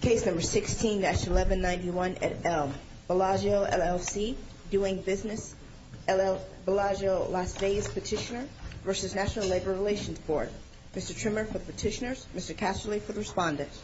Case No. 16-1191 at Elm, Bellagio, LLC Doing Business, Bellagio, Las Vegas Petitioner v. National Labor Relations Board Mr. Trimmer for the petitioners, Mr. Casterly for the respondents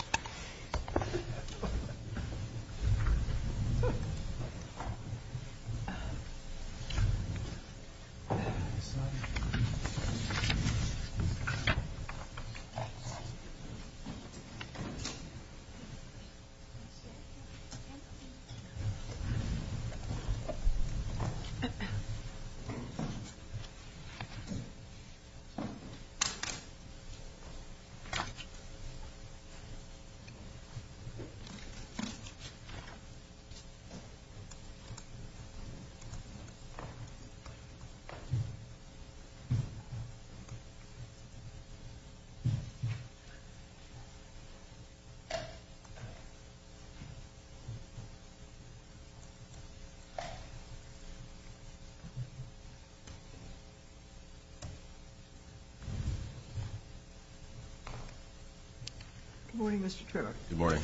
Good morning, Mr. Trimmer. Good morning.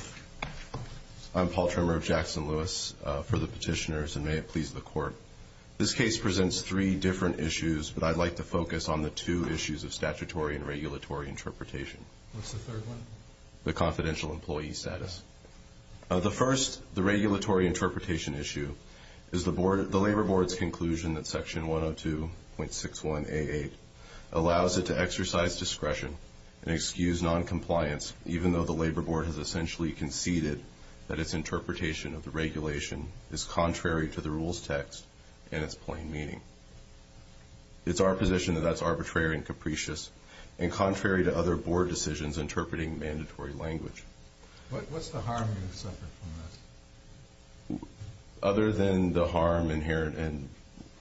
I'm Paul Trimmer of Jackson-Lewis for the petitioners, and may it please the Court. This case presents three different issues, but I'd like to focus on the two issues of statutory and regulatory interpretation. What's the third one? The confidential employee status. The first, the regulatory interpretation issue, is the Labor Board's conclusion that Section 102.61a8 allows it to exercise discretion and excuse noncompliance even though the Labor Board has essentially conceded that its interpretation of the regulation is contrary to the rules text and its plain meaning. It's our position that that's arbitrary and capricious and contrary to other Board decisions interpreting mandatory language. What's the harm you suffer from this? Other than the harm inherent in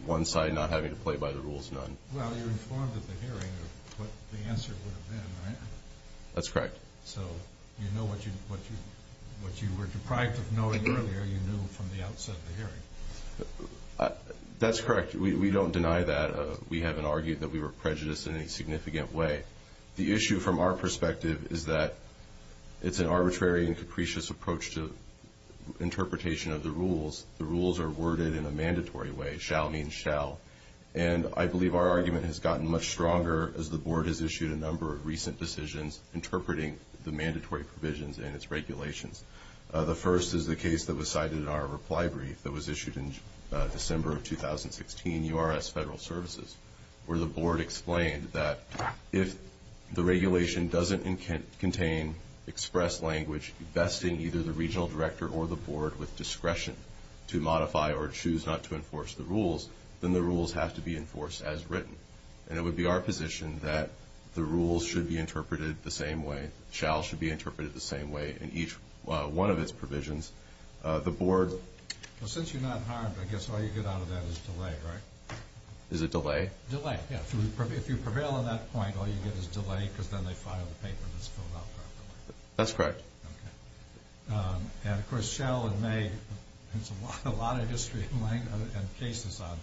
one side not having to play by the rules none. Well, you're informed at the hearing of what the answer would have been, right? That's correct. So you know what you were deprived of knowing earlier you knew from the outset of the hearing. That's correct. We don't deny that. We haven't argued that we were prejudiced in any significant way. The issue from our perspective is that it's an arbitrary and capricious approach to interpretation of the rules. The rules are worded in a mandatory way, shall mean shall. And I believe our argument has gotten much stronger as the Board has issued a number of recent decisions interpreting the mandatory provisions in its regulations. The first is the case that was cited in our reply brief that was issued in December of 2016, URS Federal Services, where the Board explained that if the regulation doesn't contain express language vesting either the regional director or the Board with discretion to modify or choose not to enforce the rules, then the rules have to be enforced as written. And it would be our position that the rules should be interpreted the same way. Shall should be interpreted the same way in each one of its provisions. The Board... Well, since you're not harmed, I guess all you get out of that is delay, right? Is it delay? Delay, yeah. If you prevail on that point, all you get is delay because then they file the paper that's filled out. That's correct. And, of course, shall and may, there's a lot of history and cases on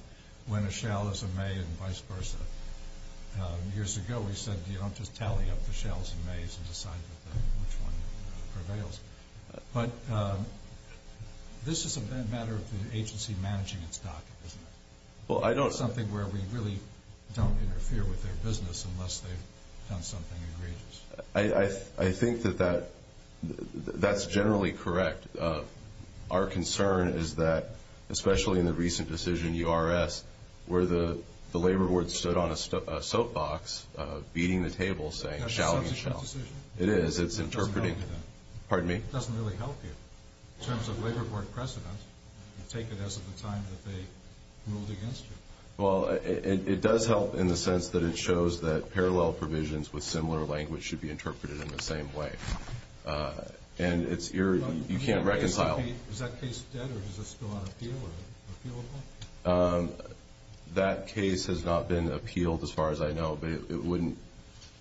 when a shall is a may and vice versa. Years ago we said you don't just tally up the shalls and mays and decide which one prevails. But this is a matter of the agency managing its docket, isn't it? Well, I don't... It's something where we really don't interfere with their business unless they've done something egregious. I think that that's generally correct. Our concern is that, especially in the recent decision, URS, where the Labor Board stood on a soapbox beating the table saying shall be shall. That's a substantive decision. It is. It's interpreting. It doesn't help you then. Pardon me? It doesn't really help you in terms of Labor Board precedent. You take it as of the time that they ruled against you. Well, it does help in the sense that it shows that parallel provisions with similar language should be interpreted in the same way. And you can't reconcile... Is that case dead or does it still on appeal? That case has not been appealed as far as I know, but it wouldn't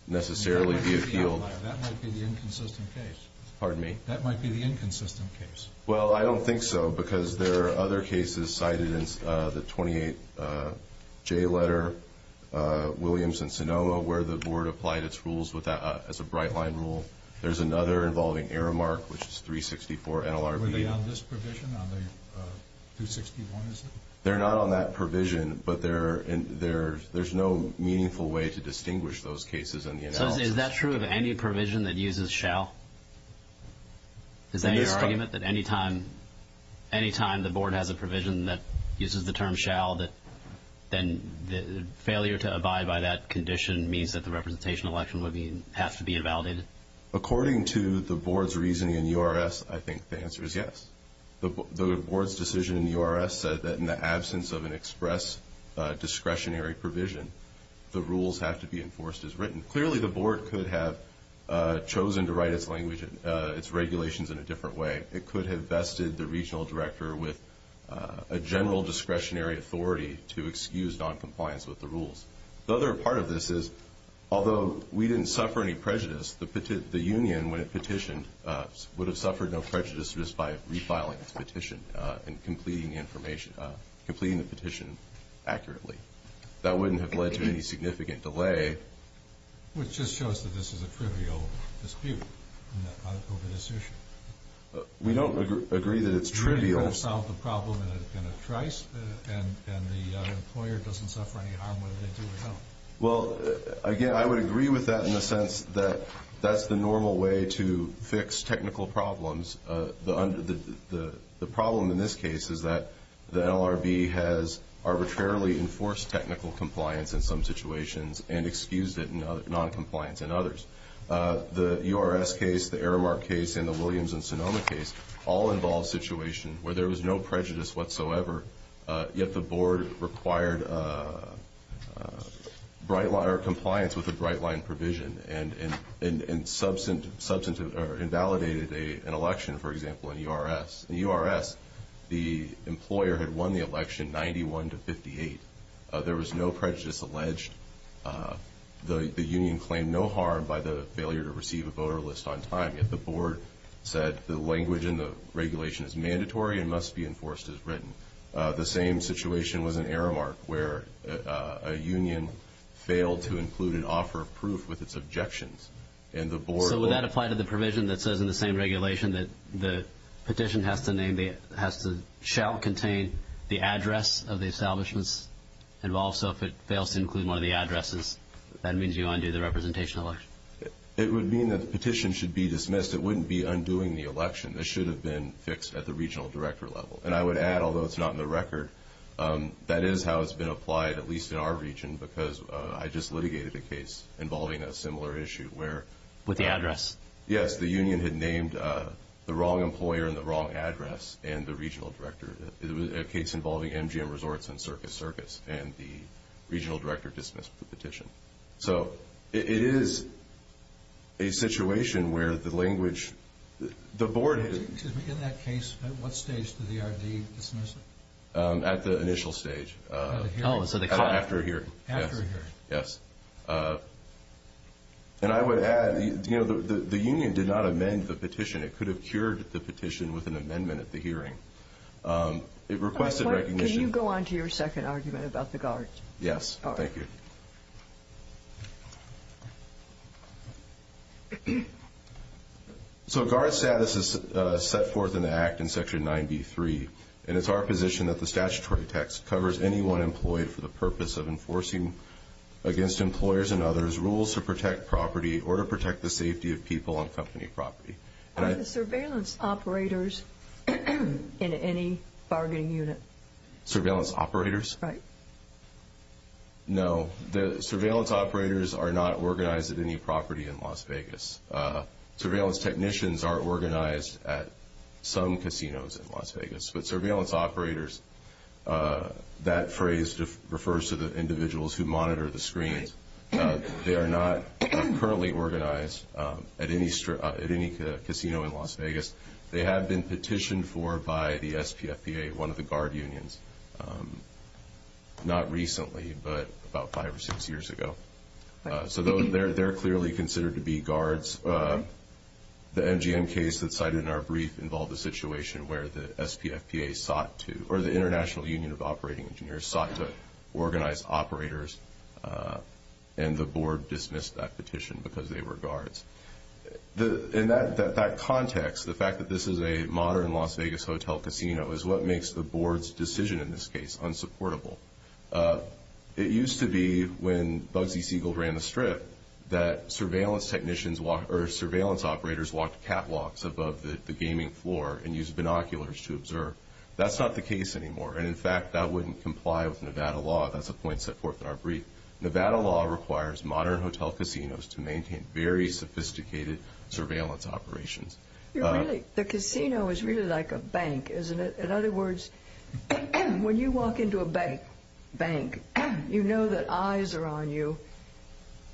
necessarily be appealed. That might be the inconsistent case. Pardon me? That might be the inconsistent case. Well, I don't think so because there are other cases cited in the 28J letter, Williams and Sonoma, where the board applied its rules as a bright line rule. There's another involving Aramark, which is 364 NLRB. Were they on this provision, on the 261? They're not on that provision, but there's no meaningful way to distinguish those cases in the analysis. So is that true of any provision that uses shall? Is there any argument that any time the board has a provision that uses the term shall, that then the failure to abide by that condition means that the representation election would have to be invalidated? According to the board's reasoning in URS, I think the answer is yes. The board's decision in URS said that in the absence of an express discretionary provision, the rules have to be enforced as written. Clearly, the board could have chosen to write its regulations in a different way. It could have vested the regional director with a general discretionary authority to excuse noncompliance with the rules. The other part of this is, although we didn't suffer any prejudice, the union, when it petitioned, would have suffered no prejudice just by refiling its petition and completing the petition accurately. That wouldn't have led to any significant delay. Which just shows that this is a trivial dispute over this issue. We don't agree that it's trivial. You really don't solve the problem in a trice, and the employer doesn't suffer any harm whether they do or don't. Well, again, I would agree with that in the sense that that's the normal way to fix technical problems. The problem in this case is that the LRB has arbitrarily enforced technical compliance in some situations and excused it in noncompliance in others. The URS case, the Aramark case, and the Williams and Sonoma case all involved situations where there was no prejudice whatsoever, yet the board required compliance with the Bright Line provision and invalidated an election, for example, in the URS. In the URS, the employer had won the election 91 to 58. There was no prejudice alleged. The union claimed no harm by the failure to receive a voter list on time, yet the board said the language in the regulation is mandatory and must be enforced as written. The same situation was in Aramark, where a union failed to include an offer of proof with its objections. So would that apply to the provision that says in the same regulation that the petition shall contain the address of the establishments involved? So if it fails to include one of the addresses, that means you undo the representation election. It would mean that the petition should be dismissed. It wouldn't be undoing the election. This should have been fixed at the regional director level. And I would add, although it's not in the record, that is how it's been applied, at least in our region, because I just litigated a case involving a similar issue where the union had named the wrong employer and the wrong address and the regional director. It was a case involving MGM Resorts and Circus Circus, and the regional director dismissed the petition. So it is a situation where the language – the board – Excuse me. In that case, at what stage did the RD dismiss it? At the initial stage. Oh, so the – After a hearing. After a hearing. Yes. And I would add, you know, the union did not amend the petition. It could have cured the petition with an amendment at the hearing. It requested recognition – Can you go on to your second argument about the guard? Yes. Thank you. So guard status is set forth in the Act in Section 9B.3, and it's our position that the statutory text covers anyone employed for the purpose of enforcing, against employers and others, rules to protect property or to protect the safety of people on company property. Are the surveillance operators in any bargaining unit? Surveillance operators? Right. No. The surveillance operators are not organized at any property in Las Vegas. Surveillance technicians are organized at some casinos in Las Vegas, but surveillance operators – that phrase refers to the individuals who monitor the screens. They are not currently organized at any casino in Las Vegas. They have been petitioned for by the SPFPA, one of the guard unions, not recently but about five or six years ago. So they're clearly considered to be guards. The MGM case that's cited in our brief involved a situation where the SPFPA sought to – or the International Union of Operating Engineers sought to organize operators, and the board dismissed that petition because they were guards. In that context, the fact that this is a modern Las Vegas hotel casino is what makes the board's decision in this case unsupportable. It used to be, when Bugsy Siegel ran the strip, that surveillance operators walked catwalks above the gaming floor and used binoculars to observe. That's not the case anymore, and, in fact, that wouldn't comply with Nevada law. That's a point set forth in our brief. Nevada law requires modern hotel casinos to maintain very sophisticated surveillance operations. The casino is really like a bank, isn't it? In other words, when you walk into a bank, you know that eyes are on you,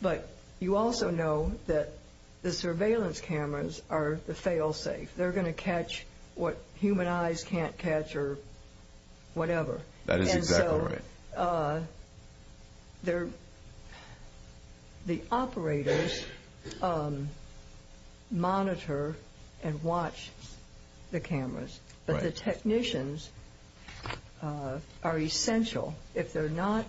but you also know that the surveillance cameras are the fail-safe. They're going to catch what human eyes can't catch or whatever. That is exactly right. The operators monitor and watch the cameras, but the technicians are essential. If they're not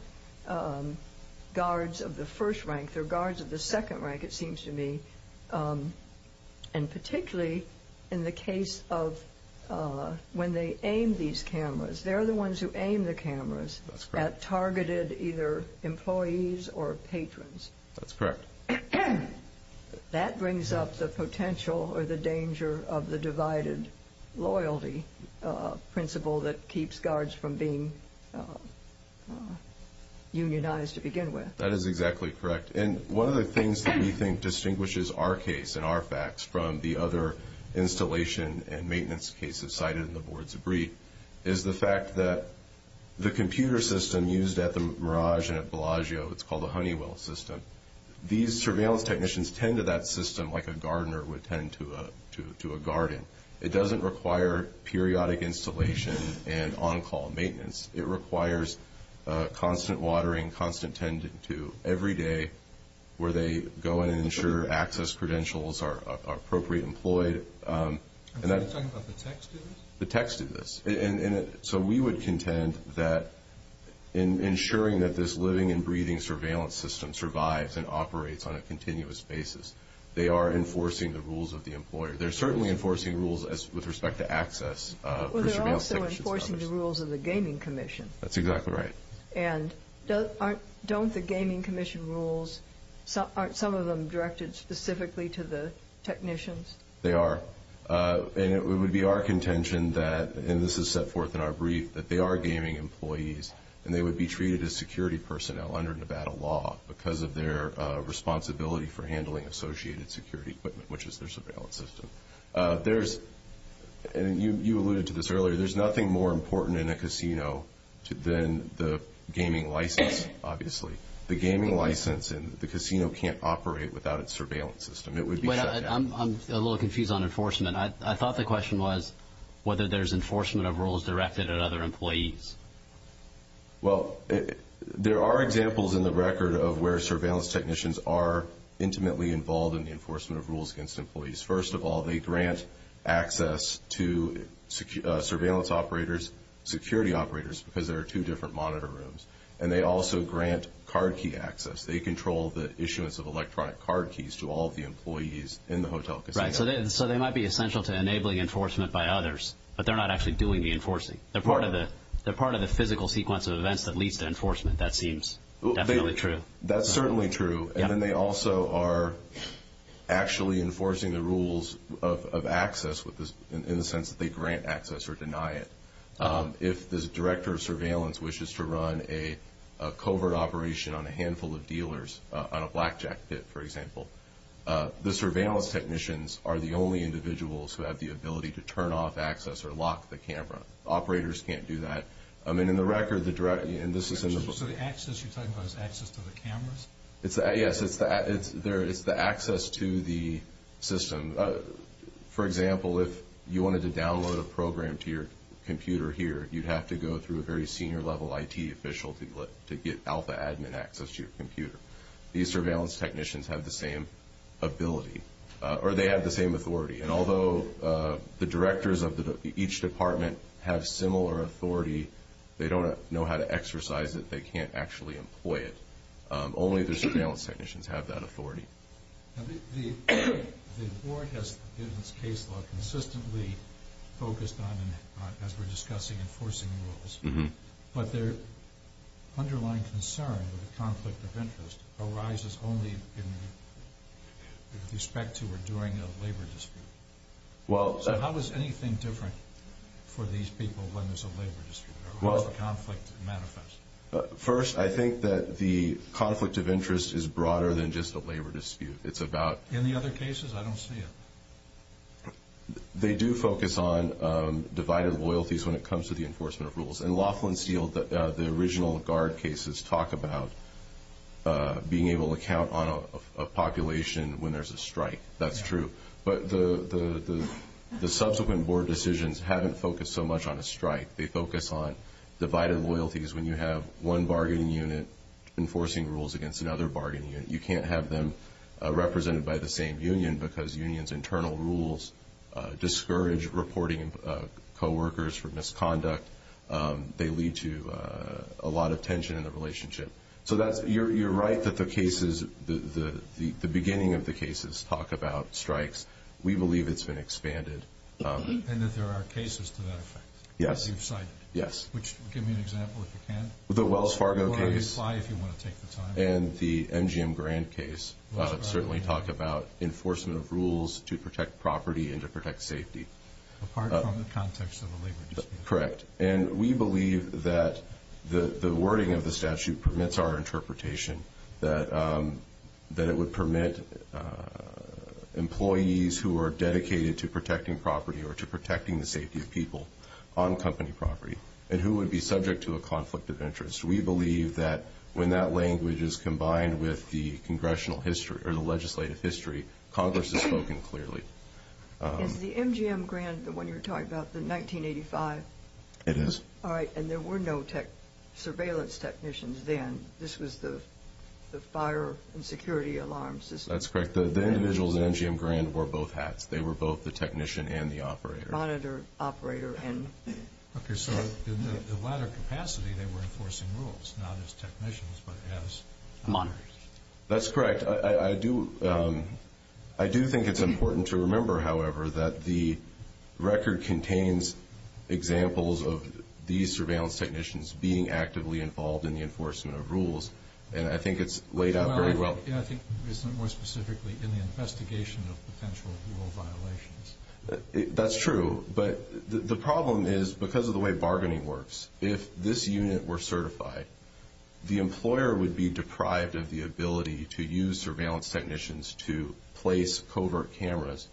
guards of the first rank, they're guards of the second rank, it seems to me, and particularly in the case of when they aim these cameras. They're the ones who aim the cameras at targeted either employees or patrons. That's correct. That brings up the potential or the danger of the divided loyalty principle that keeps guards from being unionized to begin with. That is exactly correct, and one of the things that we think distinguishes our case and our facts from the other installation and maintenance cases cited in the board's brief is the fact that the computer system used at the Mirage and at Bellagio, it's called the Honeywell system. These surveillance technicians tend to that system like a gardener would tend to a garden. It doesn't require periodic installation and on-call maintenance. It requires constant watering, constant tending to every day where they go in and ensure access credentials are appropriately employed. Are you talking about the tech students? The tech students. So we would contend that in ensuring that this living and breathing surveillance system survives and operates on a continuous basis, they are enforcing the rules of the employer. They're certainly enforcing rules with respect to access. Well, they're also enforcing the rules of the Gaming Commission. That's exactly right. And don't the Gaming Commission rules, aren't some of them directed specifically to the technicians? They are. And it would be our contention that, and this is set forth in our brief, that they are gaming employees and they would be treated as security personnel under Nevada law because of their responsibility for handling associated security equipment, which is their surveillance system. You alluded to this earlier. There's nothing more important in a casino than the gaming license, obviously. The gaming license in the casino can't operate without its surveillance system. It would be shut down. I'm a little confused on enforcement. I thought the question was whether there's enforcement of rules directed at other employees. Well, there are examples in the record of where surveillance technicians are intimately involved in the enforcement of rules against employees. First of all, they grant access to surveillance operators, security operators, because there are two different monitor rooms. And they also grant card key access. They control the issuance of electronic card keys to all the employees in the hotel casino. Right, so they might be essential to enabling enforcement by others, but they're not actually doing the enforcing. They're part of the physical sequence of events that leads to enforcement, that seems. Definitely true. That's certainly true. And then they also are actually enforcing the rules of access in the sense that they grant access or deny it. If the director of surveillance wishes to run a covert operation on a handful of dealers, on a blackjack pit, for example, the surveillance technicians are the only individuals who have the ability to turn off, access, or lock the camera. Operators can't do that. And in the record, the director, and this is in the book. So the access you're talking about is access to the cameras? Yes, it's the access to the system. For example, if you wanted to download a program to your computer here, you'd have to go through a very senior level IT official to get alpha admin access to your computer. These surveillance technicians have the same ability, or they have the same authority. And although the directors of each department have similar authority, they don't know how to exercise it. They can't actually employ it. Only the surveillance technicians have that authority. The board has, in its case law, consistently focused on, as we're discussing, enforcing rules. But their underlying concern with the conflict of interest arises only in respect to or during a labor dispute. So how is anything different for these people when there's a labor dispute or a conflict manifests? First, I think that the conflict of interest is broader than just a labor dispute. It's about- In the other cases, I don't see it. They do focus on divided loyalties when it comes to the enforcement of rules. In Laughlin Steel, the original guard cases talk about being able to count on a population when there's a strike. That's true. They focus on divided loyalties when you have one bargaining unit enforcing rules against another bargaining unit. You can't have them represented by the same union because unions' internal rules discourage reporting co-workers for misconduct. They lead to a lot of tension in the relationship. So you're right that the cases, the beginning of the cases, talk about strikes. We believe it's been expanded. And that there are cases to that effect. Yes. Which, give me an example if you can. The Wells Fargo case. You're welcome to reply if you want to take the time. And the MGM Grant case certainly talk about enforcement of rules to protect property and to protect safety. Apart from the context of the labor dispute. Correct. And we believe that the wording of the statute permits our interpretation, that it would permit employees who are dedicated to protecting property or to protecting the safety of people on company property, and who would be subject to a conflict of interest. We believe that when that language is combined with the legislative history, Congress has spoken clearly. Is the MGM Grant, the one you were talking about, the 1985? It is. All right. And there were no surveillance technicians then. This was the fire and security alarm system. That's correct. The individuals in MGM Grant wore both hats. They were both the technician and the operator. Monitor, operator, and. Okay. So in the latter capacity, they were enforcing rules, not as technicians, but as monitors. That's correct. I do think it's important to remember, however, that the record contains examples of these surveillance technicians being actively involved in the enforcement of rules. And I think it's laid out very well. I think more specifically in the investigation of potential rule violations. That's true. But the problem is, because of the way bargaining works, if this unit were certified, the employer would be deprived of the ability to use surveillance technicians to place covert cameras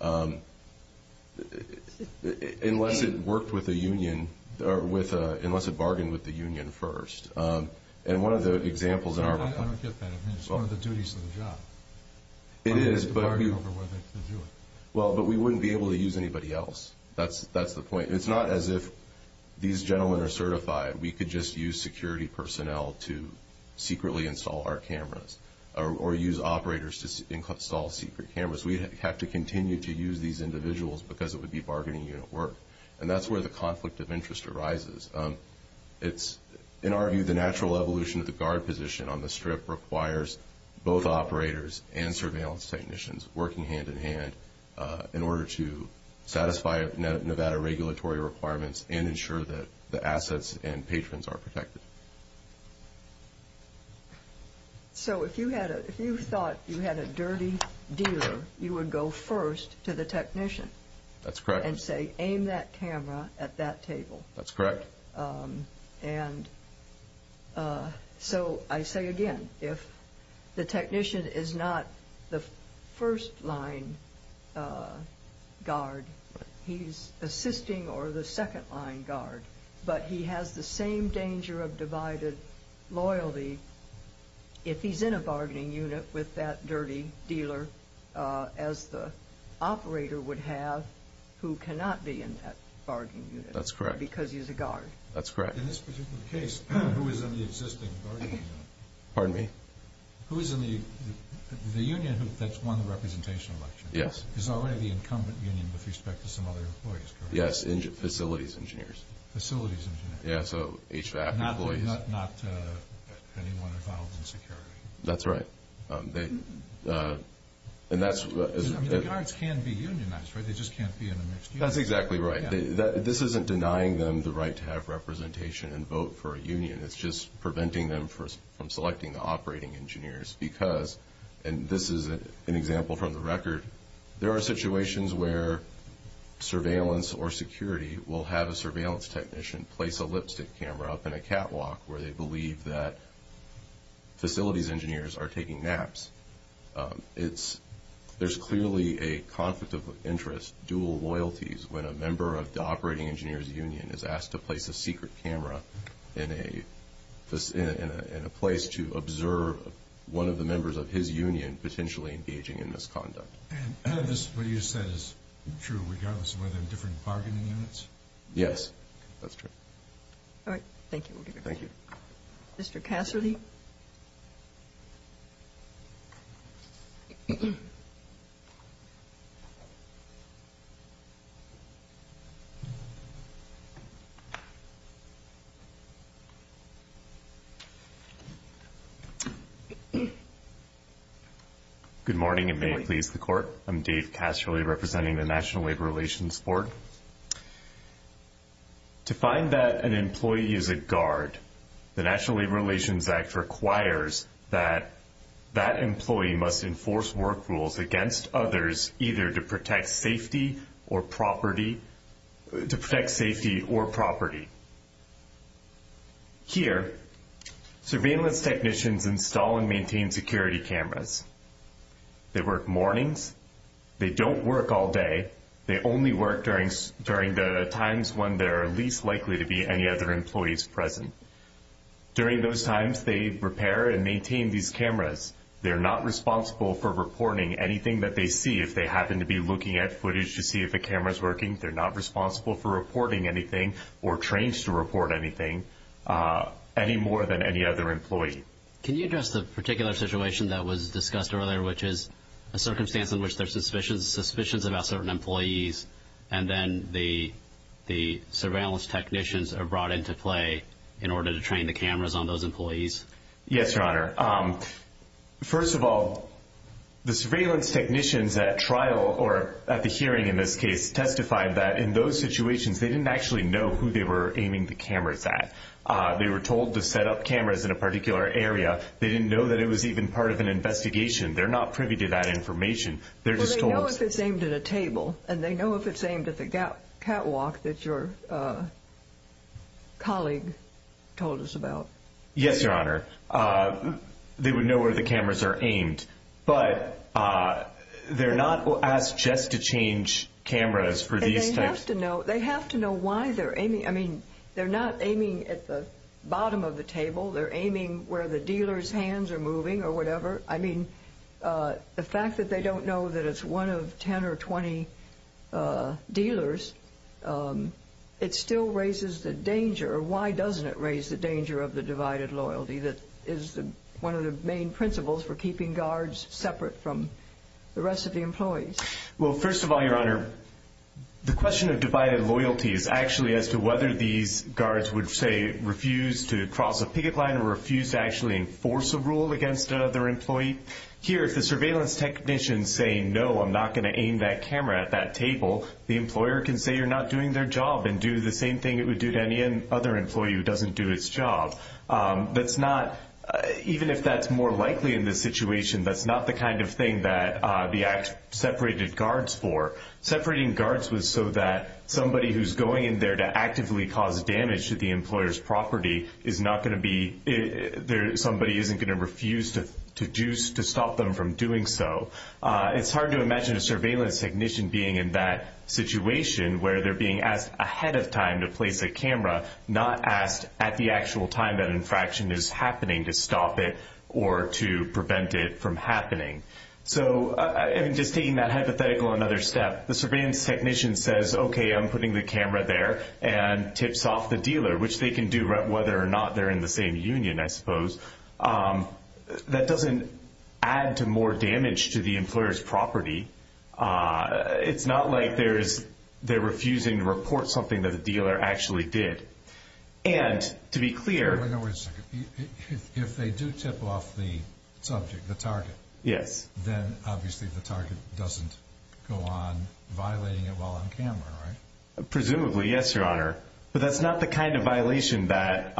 unless it worked with a union, or unless it bargained with the union first. And one of the examples in our... I don't get that. I mean, it's one of the duties of the job. It is, but... To bargain over whether to do it. Well, but we wouldn't be able to use anybody else. That's the point. It's not as if these gentlemen are certified. We could just use security personnel to secretly install our cameras, or use operators to install secret cameras. We'd have to continue to use these individuals because it would be bargaining unit work. And that's where the conflict of interest arises. In our view, the natural evolution of the guard position on the strip requires both operators and surveillance technicians working hand-in-hand in order to satisfy Nevada regulatory requirements and ensure that the assets and patrons are protected. So if you thought you had a dirty dealer, you would go first to the technician. That's correct. And say, aim that camera at that table. That's correct. And so I say again, if the technician is not the first-line guard, he's assisting or the second-line guard, but he has the same danger of divided loyalty if he's in a bargaining unit with that dirty dealer as the operator would have who cannot be in that bargaining unit. That's correct. Because he's a guard. That's correct. In this particular case, who is in the existing bargaining unit? Pardon me? Who is in the union that's won the representation election? Yes. It's already the incumbent union with respect to some other employees, correct? Yes, facilities engineers. Facilities engineers. Yeah, so HVAC employees. Not anyone involved in security. That's right. The guards can be unionized, right? They just can't be in a mixed union. That's exactly right. This isn't denying them the right to have representation and vote for a union. It's just preventing them from selecting the operating engineers because, and this is an example from the record, there are situations where surveillance or security will have a surveillance technician place a lipstick camera up in a catwalk where they believe that facilities engineers are taking naps. There's clearly a conflict of interest, dual loyalties, when a member of the operating engineer's union is asked to place a secret camera in a place to observe one of the members of his union potentially engaging in misconduct. And this, what you said, is true regardless of whether they're different bargaining units? Yes, that's true. All right. Thank you. Thank you. Mr. Casserly? Good morning, and may it please the Court. I'm Dave Casserly representing the National Labor Relations Board. To find that an employee is a guard, the National Labor Relations Act requires that that employee must enforce work rules against others either to protect safety or property. Here, surveillance technicians install and maintain security cameras. They work mornings. They don't work all day. They only work during the times when they're least likely to be any other employees present. During those times, they repair and maintain these cameras. They're not responsible for reporting anything that they see. If they happen to be looking at footage to see if a camera's working, they're not responsible for reporting anything or trained to report anything any more than any other employee. Can you address the particular situation that was discussed earlier, which is a circumstance in which there's suspicions about certain employees and then the surveillance technicians are brought into play in order to train the cameras on those employees? Yes, Your Honor. First of all, the surveillance technicians at trial or at the hearing in this case testified that in those situations they didn't actually know who they were aiming the cameras at. They were told to set up cameras in a particular area. They didn't know that it was even part of an investigation. They're not privy to that information. Well, they know if it's aimed at a table, and they know if it's aimed at the catwalk that your colleague told us about. Yes, Your Honor. They would know where the cameras are aimed, but they're not asked just to change cameras for these types. They have to know why they're aiming. I mean, they're not aiming at the bottom of the table. They're aiming where the dealer's hands are moving or whatever. I mean, the fact that they don't know that it's one of 10 or 20 dealers, it still raises the danger. Why doesn't it raise the danger of the divided loyalty that is one of the main principles for keeping guards separate from the rest of the employees? Well, first of all, Your Honor, the question of divided loyalty is actually as to whether these guards would, say, refuse to cross a picket line or refuse to actually enforce a rule against another employee. Here, if the surveillance technicians say, no, I'm not going to aim that camera at that table, the employer can say you're not doing their job and do the same thing it would do to any other employee who doesn't do its job. Even if that's more likely in this situation, that's not the kind of thing that the act separated guards for. Separating guards was so that somebody who's going in there to actively cause damage to the employer's property is not going to be there. Somebody isn't going to refuse to stop them from doing so. It's hard to imagine a surveillance technician being in that situation where they're being asked ahead of time to place a camera, not asked at the actual time that infraction is happening to stop it or to prevent it from happening. So just taking that hypothetical another step, the surveillance technician says, okay, I'm putting the camera there and tips off the dealer, which they can do whether or not they're in the same union, I suppose. That doesn't add to more damage to the employer's property. It's not like they're refusing to report something that the dealer actually did. And to be clear— Wait a second. If they do tip off the subject, the target, then obviously the target doesn't go on violating it while on camera, right? Presumably, yes, Your Honor. But that's not the kind of violation that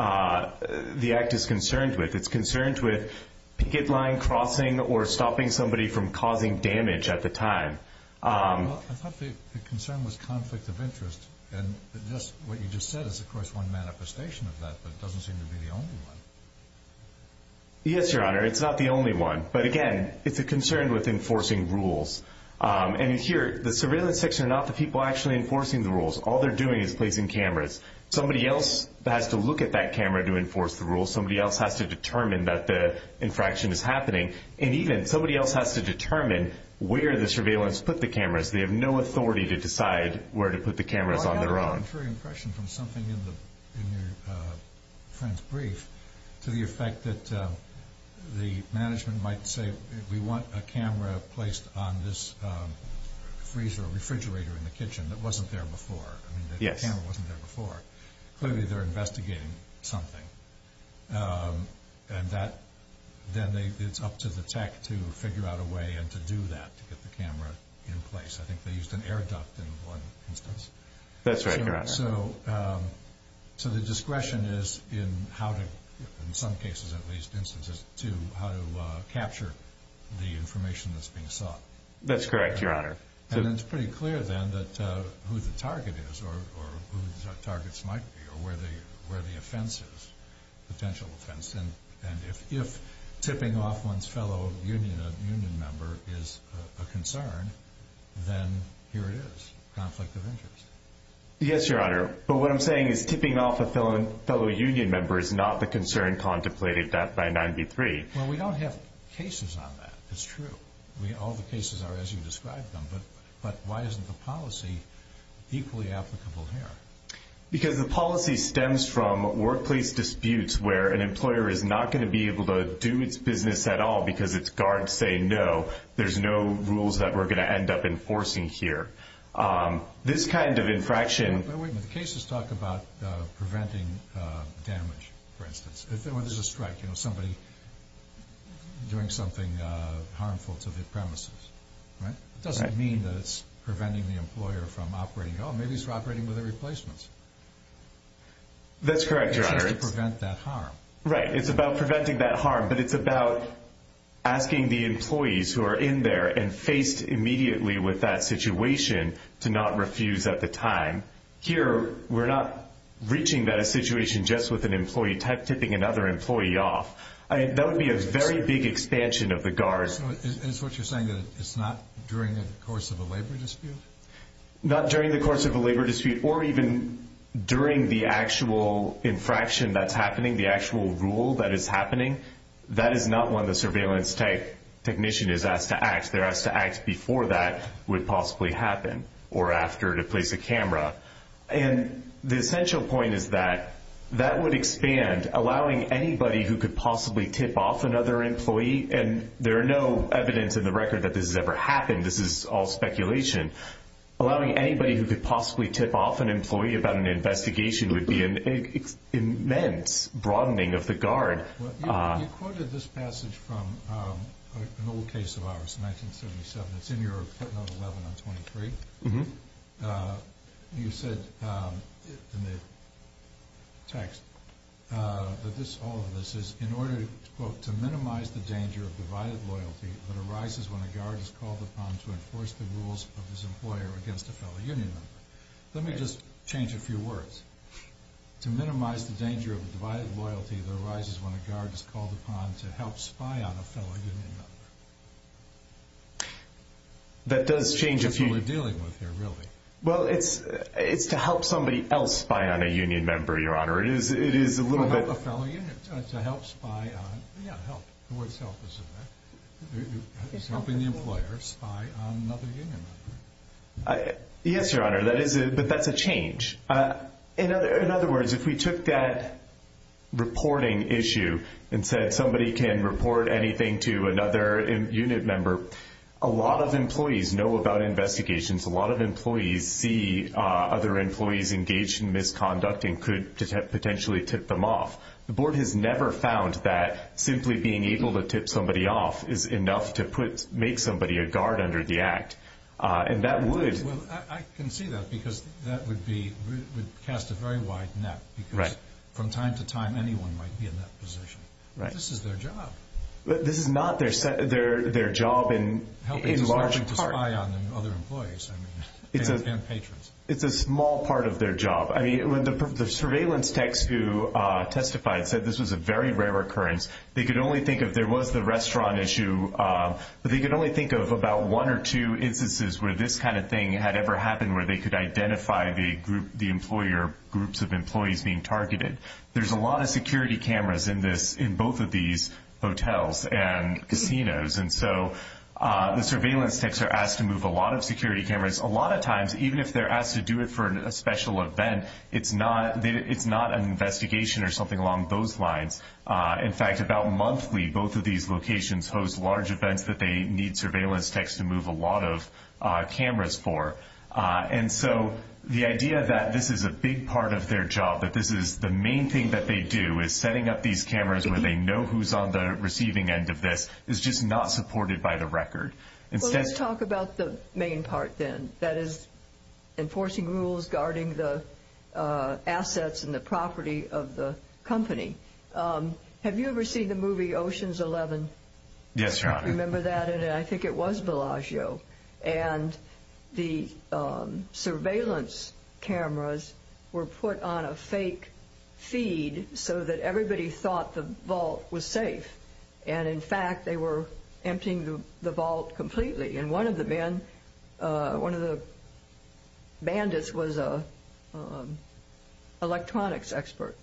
the act is concerned with. It's concerned with picket line crossing or stopping somebody from causing damage at the time. I thought the concern was conflict of interest. And what you just said is, of course, one manifestation of that, but it doesn't seem to be the only one. Yes, Your Honor, it's not the only one. But again, it's a concern with enforcing rules. And here, the surveillance section are not the people actually enforcing the rules. All they're doing is placing cameras. Somebody else has to look at that camera to enforce the rules. Somebody else has to determine that the infraction is happening. And even somebody else has to determine where the surveillance put the cameras. They have no authority to decide where to put the cameras on their own. I got a contrary impression from something in your friend's brief to the effect that the management might say, we want a camera placed on this freezer or refrigerator in the kitchen that wasn't there before. I mean, the camera wasn't there before. Clearly, they're investigating something. And then it's up to the tech to figure out a way and to do that to get the camera in place. I think they used an air duct in one instance. That's right, Your Honor. So the discretion is in how to, in some cases at least, instances, to how to capture the information that's being sought. That's correct, Your Honor. And it's pretty clear, then, who the target is or whose targets might be or where the offense is, potential offense. And if tipping off one's fellow union member is a concern, then here it is, conflict of interest. Yes, Your Honor. But what I'm saying is tipping off a fellow union member is not the concern contemplated by 9b-3. Well, we don't have cases on that. It's true. All the cases are as you described them. But why isn't the policy equally applicable here? Because the policy stems from workplace disputes where an employer is not going to be able to do its business at all because its guards say no. There's no rules that we're going to end up enforcing here. This kind of infraction. Wait a minute. The cases talk about preventing damage, for instance. If there was a strike, you know, somebody doing something harmful to the premises, right? It doesn't mean that it's preventing the employer from operating. Oh, maybe he's operating with a replacement. That's correct, Your Honor. It's just to prevent that harm. Right. It's about preventing that harm, but it's about asking the employees who are in there and faced immediately with that situation to not refuse at the time. Here, we're not reaching that situation just with an employee type tipping another employee off. That would be a very big expansion of the guards. So is what you're saying that it's not during the course of a labor dispute? Not during the course of a labor dispute or even during the actual infraction that's happening, the actual rule that is happening, that is not when the surveillance technician is asked to act. They're asked to act before that would possibly happen or after to place a camera. And the essential point is that that would expand, allowing anybody who could possibly tip off another employee, and there are no evidence in the record that this has ever happened. This is all speculation. Allowing anybody who could possibly tip off an employee about an investigation would be an immense broadening of the guard. You quoted this passage from an old case of ours, 1977. It's in your footnote 11 on 23. You said in the text that all of this is, in order, quote, to minimize the danger of divided loyalty that arises when a guard is called upon to enforce the rules of his employer against a fellow union member. Let me just change a few words. To minimize the danger of divided loyalty that arises when a guard is called upon to help spy on a fellow union member. That does change a few. That's what we're dealing with here, really. Well, it's to help somebody else spy on a union member, Your Honor. It is a little bit... To help a fellow unit. It's to help spy on... Yeah, help. The word help is in there. It's helping the employer spy on another union member. Yes, Your Honor, but that's a change. In other words, if we took that reporting issue and said somebody can report anything to another unit member, a lot of employees know about investigations. A lot of employees see other employees engaged in misconduct and could potentially tip them off. The Board has never found that simply being able to tip somebody off is enough to make somebody a guard under the Act. And that would... Well, I can see that because that would cast a very wide net because from time to time anyone might be in that position. This is their job. This is not their job in large part. Not only to spy on other employees, I mean, and patrons. It's a small part of their job. I mean, the surveillance techs who testified said this was a very rare occurrence. They could only think of there was the restaurant issue, but they could only think of about one or two instances where this kind of thing had ever happened where they could identify the employer groups of employees being targeted. There's a lot of security cameras in both of these hotels and casinos. And so the surveillance techs are asked to move a lot of security cameras. A lot of times, even if they're asked to do it for a special event, it's not an investigation or something along those lines. In fact, about monthly, both of these locations host large events that they need surveillance techs to move a lot of cameras for. And so the idea that this is a big part of their job, that this is the main thing that they do is setting up these cameras where they know who's on the receiving end of this is just not supported by the record. Well, let's talk about the main part then. That is enforcing rules, guarding the assets and the property of the company. Have you ever seen the movie Ocean's Eleven? Yes, Your Honor. Do you remember that? And I think it was Bellagio. And the surveillance cameras were put on a fake feed so that everybody thought the vault was safe. And, in fact, they were emptying the vault completely. And one of the bandits was an electronics expert.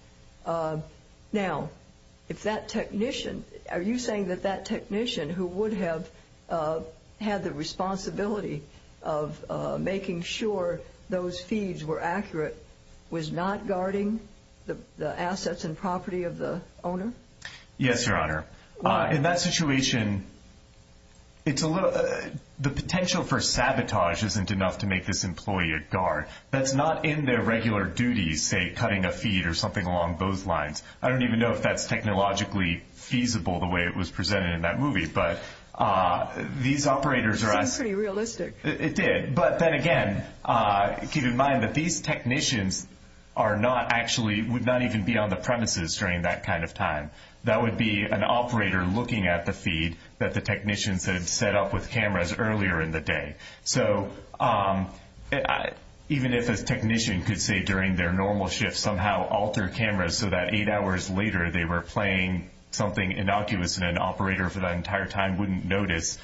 Now, are you saying that that technician who would have had the responsibility of making sure those feeds were accurate was not guarding the assets and property of the owner? Yes, Your Honor. In that situation, the potential for sabotage isn't enough to make this employee a guard. That's not in their regular duties, say, cutting a feed or something along those lines. I don't even know if that's technologically feasible the way it was presented in that movie. But these operators are asking. It seems pretty realistic. It did. But then, again, keep in mind that these technicians are not actually – would not even be on the premises during that kind of time. That would be an operator looking at the feed that the technicians had set up with cameras earlier in the day. So even if a technician could say during their normal shift somehow alter cameras so that eight hours later they were playing something innocuous and an operator for that entire time wouldn't notice,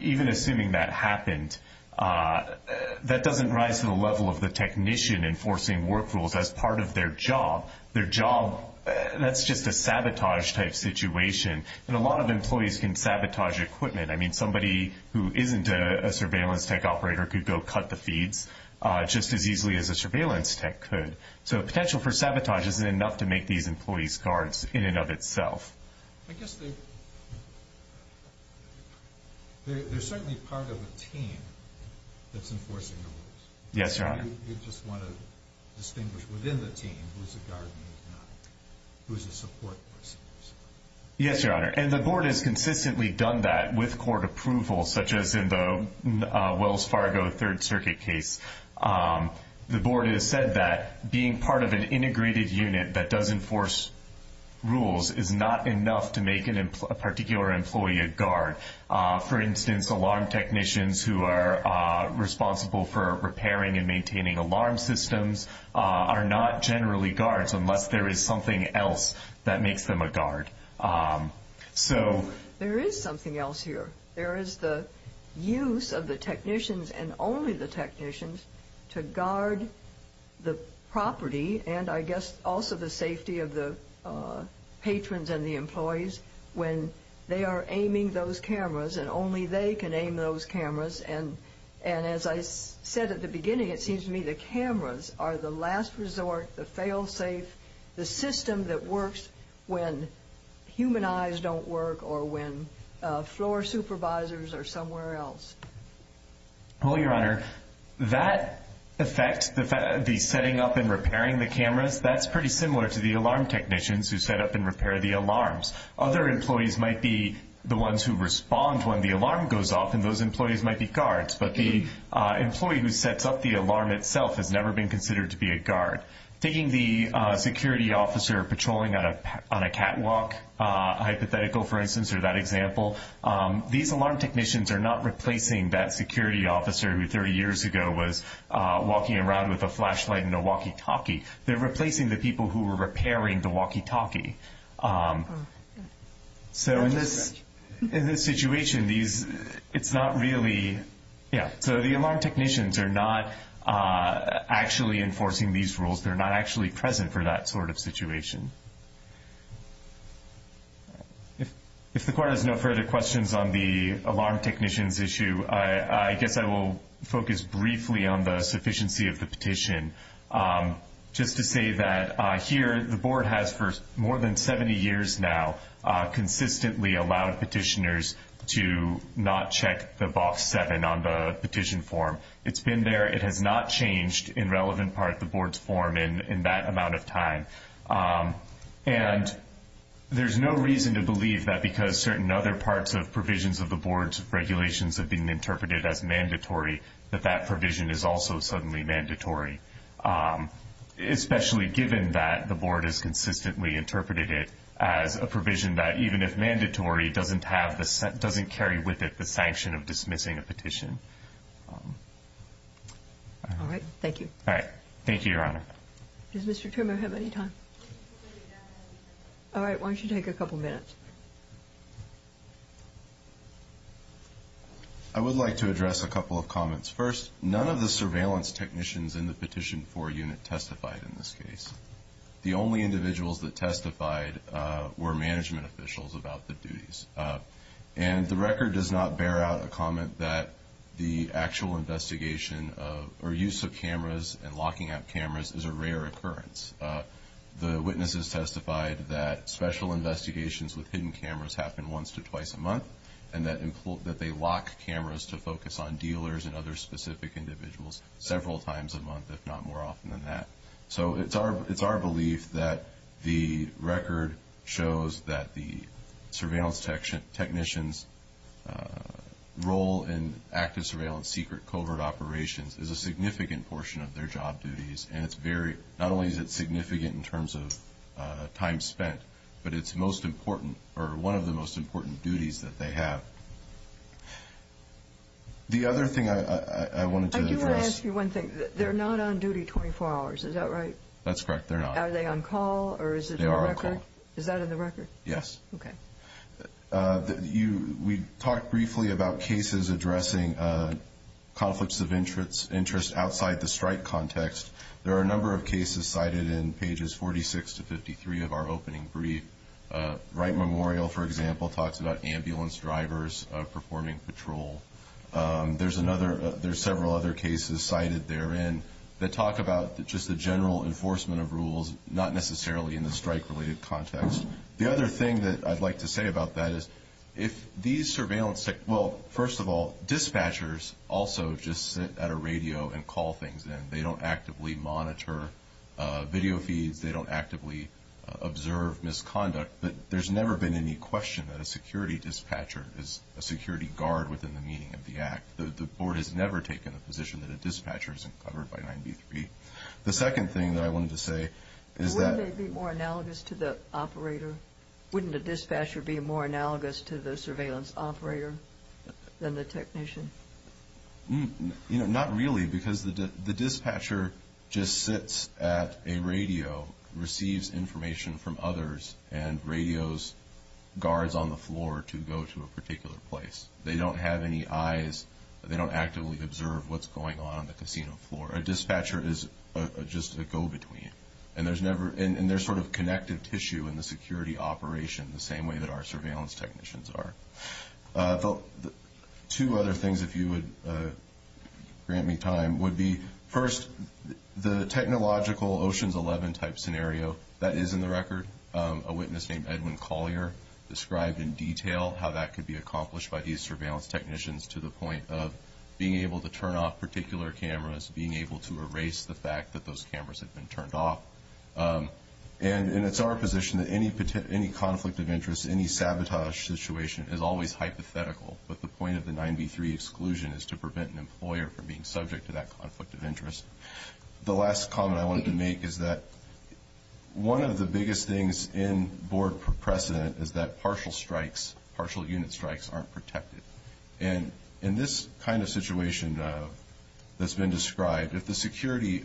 even assuming that happened, that doesn't rise to the level of the technician enforcing work rules as part of their job. Their job – that's just a sabotage-type situation. And a lot of employees can sabotage equipment. I mean, somebody who isn't a surveillance tech operator could go cut the feeds just as easily as a surveillance tech could. So the potential for sabotage isn't enough to make these employees guards in and of itself. I guess they're certainly part of a team that's enforcing the rules. Yes, Your Honor. You just want to distinguish within the team who's a guard and who's not, who's a support person. Yes, Your Honor. And the board has consistently done that with court approval, such as in the Wells Fargo Third Circuit case. The board has said that being part of an integrated unit that does enforce rules is not enough to make a particular employee a guard. For instance, alarm technicians who are responsible for repairing and maintaining alarm systems are not generally guards unless there is something else that makes them a guard. There is something else here. There is the use of the technicians and only the technicians to guard the property and I guess also the safety of the patrons and the employees when they are aiming those cameras and only they can aim those cameras. And as I said at the beginning, it seems to me the cameras are the last resort, the fail-safe, the system that works when human eyes don't work or when floor supervisors are somewhere else. Well, Your Honor, that effect, the setting up and repairing the cameras, that's pretty similar to the alarm technicians who set up and repair the alarms. Other employees might be the ones who respond when the alarm goes off and those employees might be guards, but the employee who sets up the alarm itself has never been considered to be a guard. Taking the security officer patrolling on a catwalk hypothetical, for instance, or that example, these alarm technicians are not replacing that security officer who 30 years ago was walking around with a flashlight in a walkie-talkie. They're replacing the people who were repairing the walkie-talkie. So in this situation, it's not really... Yeah, so the alarm technicians are not actually enforcing these rules. They're not actually present for that sort of situation. If the Court has no further questions on the alarm technicians issue, I guess I will focus briefly on the sufficiency of the petition. Just to say that here, the Board has, for more than 70 years now, consistently allowed petitioners to not check the Box 7 on the petition form. It's been there. It has not changed in relevant part the Board's form in that amount of time. There's no reason to believe that because certain other parts of provisions of the Board's regulations have been interpreted as mandatory, that that provision is also suddenly mandatory, especially given that the Board has consistently interpreted it as a provision that even if mandatory, doesn't carry with it the sanction of dismissing a petition. All right. Thank you. All right. Thank you, Your Honor. Does Mr. Turner have any time? All right. Why don't you take a couple minutes? I would like to address a couple of comments. First, none of the surveillance technicians in the Petition 4 unit testified in this case. The only individuals that testified were management officials about the duties. And the record does not bear out a comment that the actual investigation or use of cameras and locking up cameras is a rare occurrence. The witnesses testified that special investigations with hidden cameras happen once to twice a month and that they lock cameras to focus on dealers and other specific individuals several times a month, if not more often than that. So it's our belief that the record shows that the surveillance technicians' role in active surveillance secret covert operations is a significant portion of their job duties. And not only is it significant in terms of time spent, but it's most important or one of the most important duties that they have. The other thing I wanted to address... I do want to ask you one thing. They're not on duty 24 hours. Is that right? That's correct. They're not. Are they on call or is it in the record? They are on call. Is that in the record? Yes. Okay. We talked briefly about cases addressing conflicts of interest outside the strike context. There are a number of cases cited in pages 46 to 53 of our opening brief. Wright Memorial, for example, talks about ambulance drivers performing patrol. There's several other cases cited therein that talk about just the general enforcement of rules, not necessarily in the strike-related context. The other thing that I'd like to say about that is if these surveillance technicians... Well, first of all, dispatchers also just sit at a radio and call things in. They don't actively monitor video feeds. They don't actively observe misconduct. But there's never been any question that a security dispatcher is a security guard within the meaning of the act. The board has never taken a position that a dispatcher isn't covered by 9b-3. The second thing that I wanted to say is that... Wouldn't they be more analogous to the operator? Wouldn't a dispatcher be more analogous to the surveillance operator than the technician? Not really, because the dispatcher just sits at a radio, receives information from others, and radios guards on the floor to go to a particular place. They don't have any eyes. They don't actively observe what's going on on the casino floor. A dispatcher is just a go-between. And they're sort of connective tissue in the security operation, the same way that our surveillance technicians are. Two other things, if you would grant me time, would be, first, the technological Oceans 11-type scenario. That is in the record. A witness named Edwin Collier described in detail how that could be accomplished by these surveillance technicians to the point of being able to turn off particular cameras, being able to erase the fact that those cameras had been turned off. And it's our position that any conflict of interest, any sabotage situation is always hypothetical, but the point of the 9b-3 exclusion is to prevent an employer from being subject to that conflict of interest. The last comment I wanted to make is that one of the biggest things in board precedent is that partial strikes, partial unit strikes, aren't protected. And in this kind of situation that's been described, if the security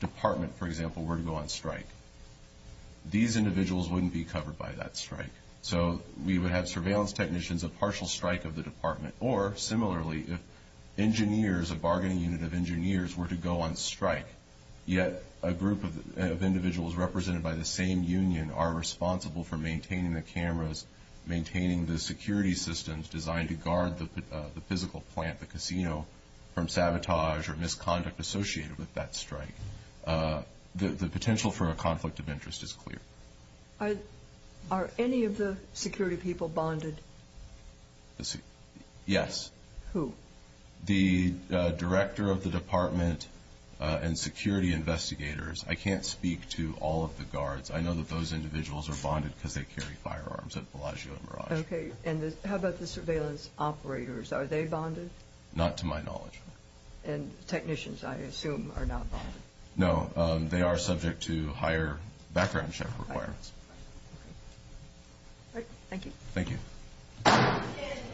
department, for example, were to go on strike, these individuals wouldn't be covered by that strike. So we would have surveillance technicians, a partial strike of the department. Or, similarly, if engineers, a bargaining unit of engineers, were to go on strike, yet a group of individuals represented by the same union are responsible for maintaining the cameras, from sabotage or misconduct associated with that strike. The potential for a conflict of interest is clear. Are any of the security people bonded? Yes. Who? The director of the department and security investigators. I can't speak to all of the guards. I know that those individuals are bonded because they carry firearms at Bellagio and Mirage. Okay. And how about the surveillance operators? Are they bonded? Not to my knowledge. And technicians, I assume, are not bonded. No. They are subject to higher background check requirements. All right. Thank you. Thank you.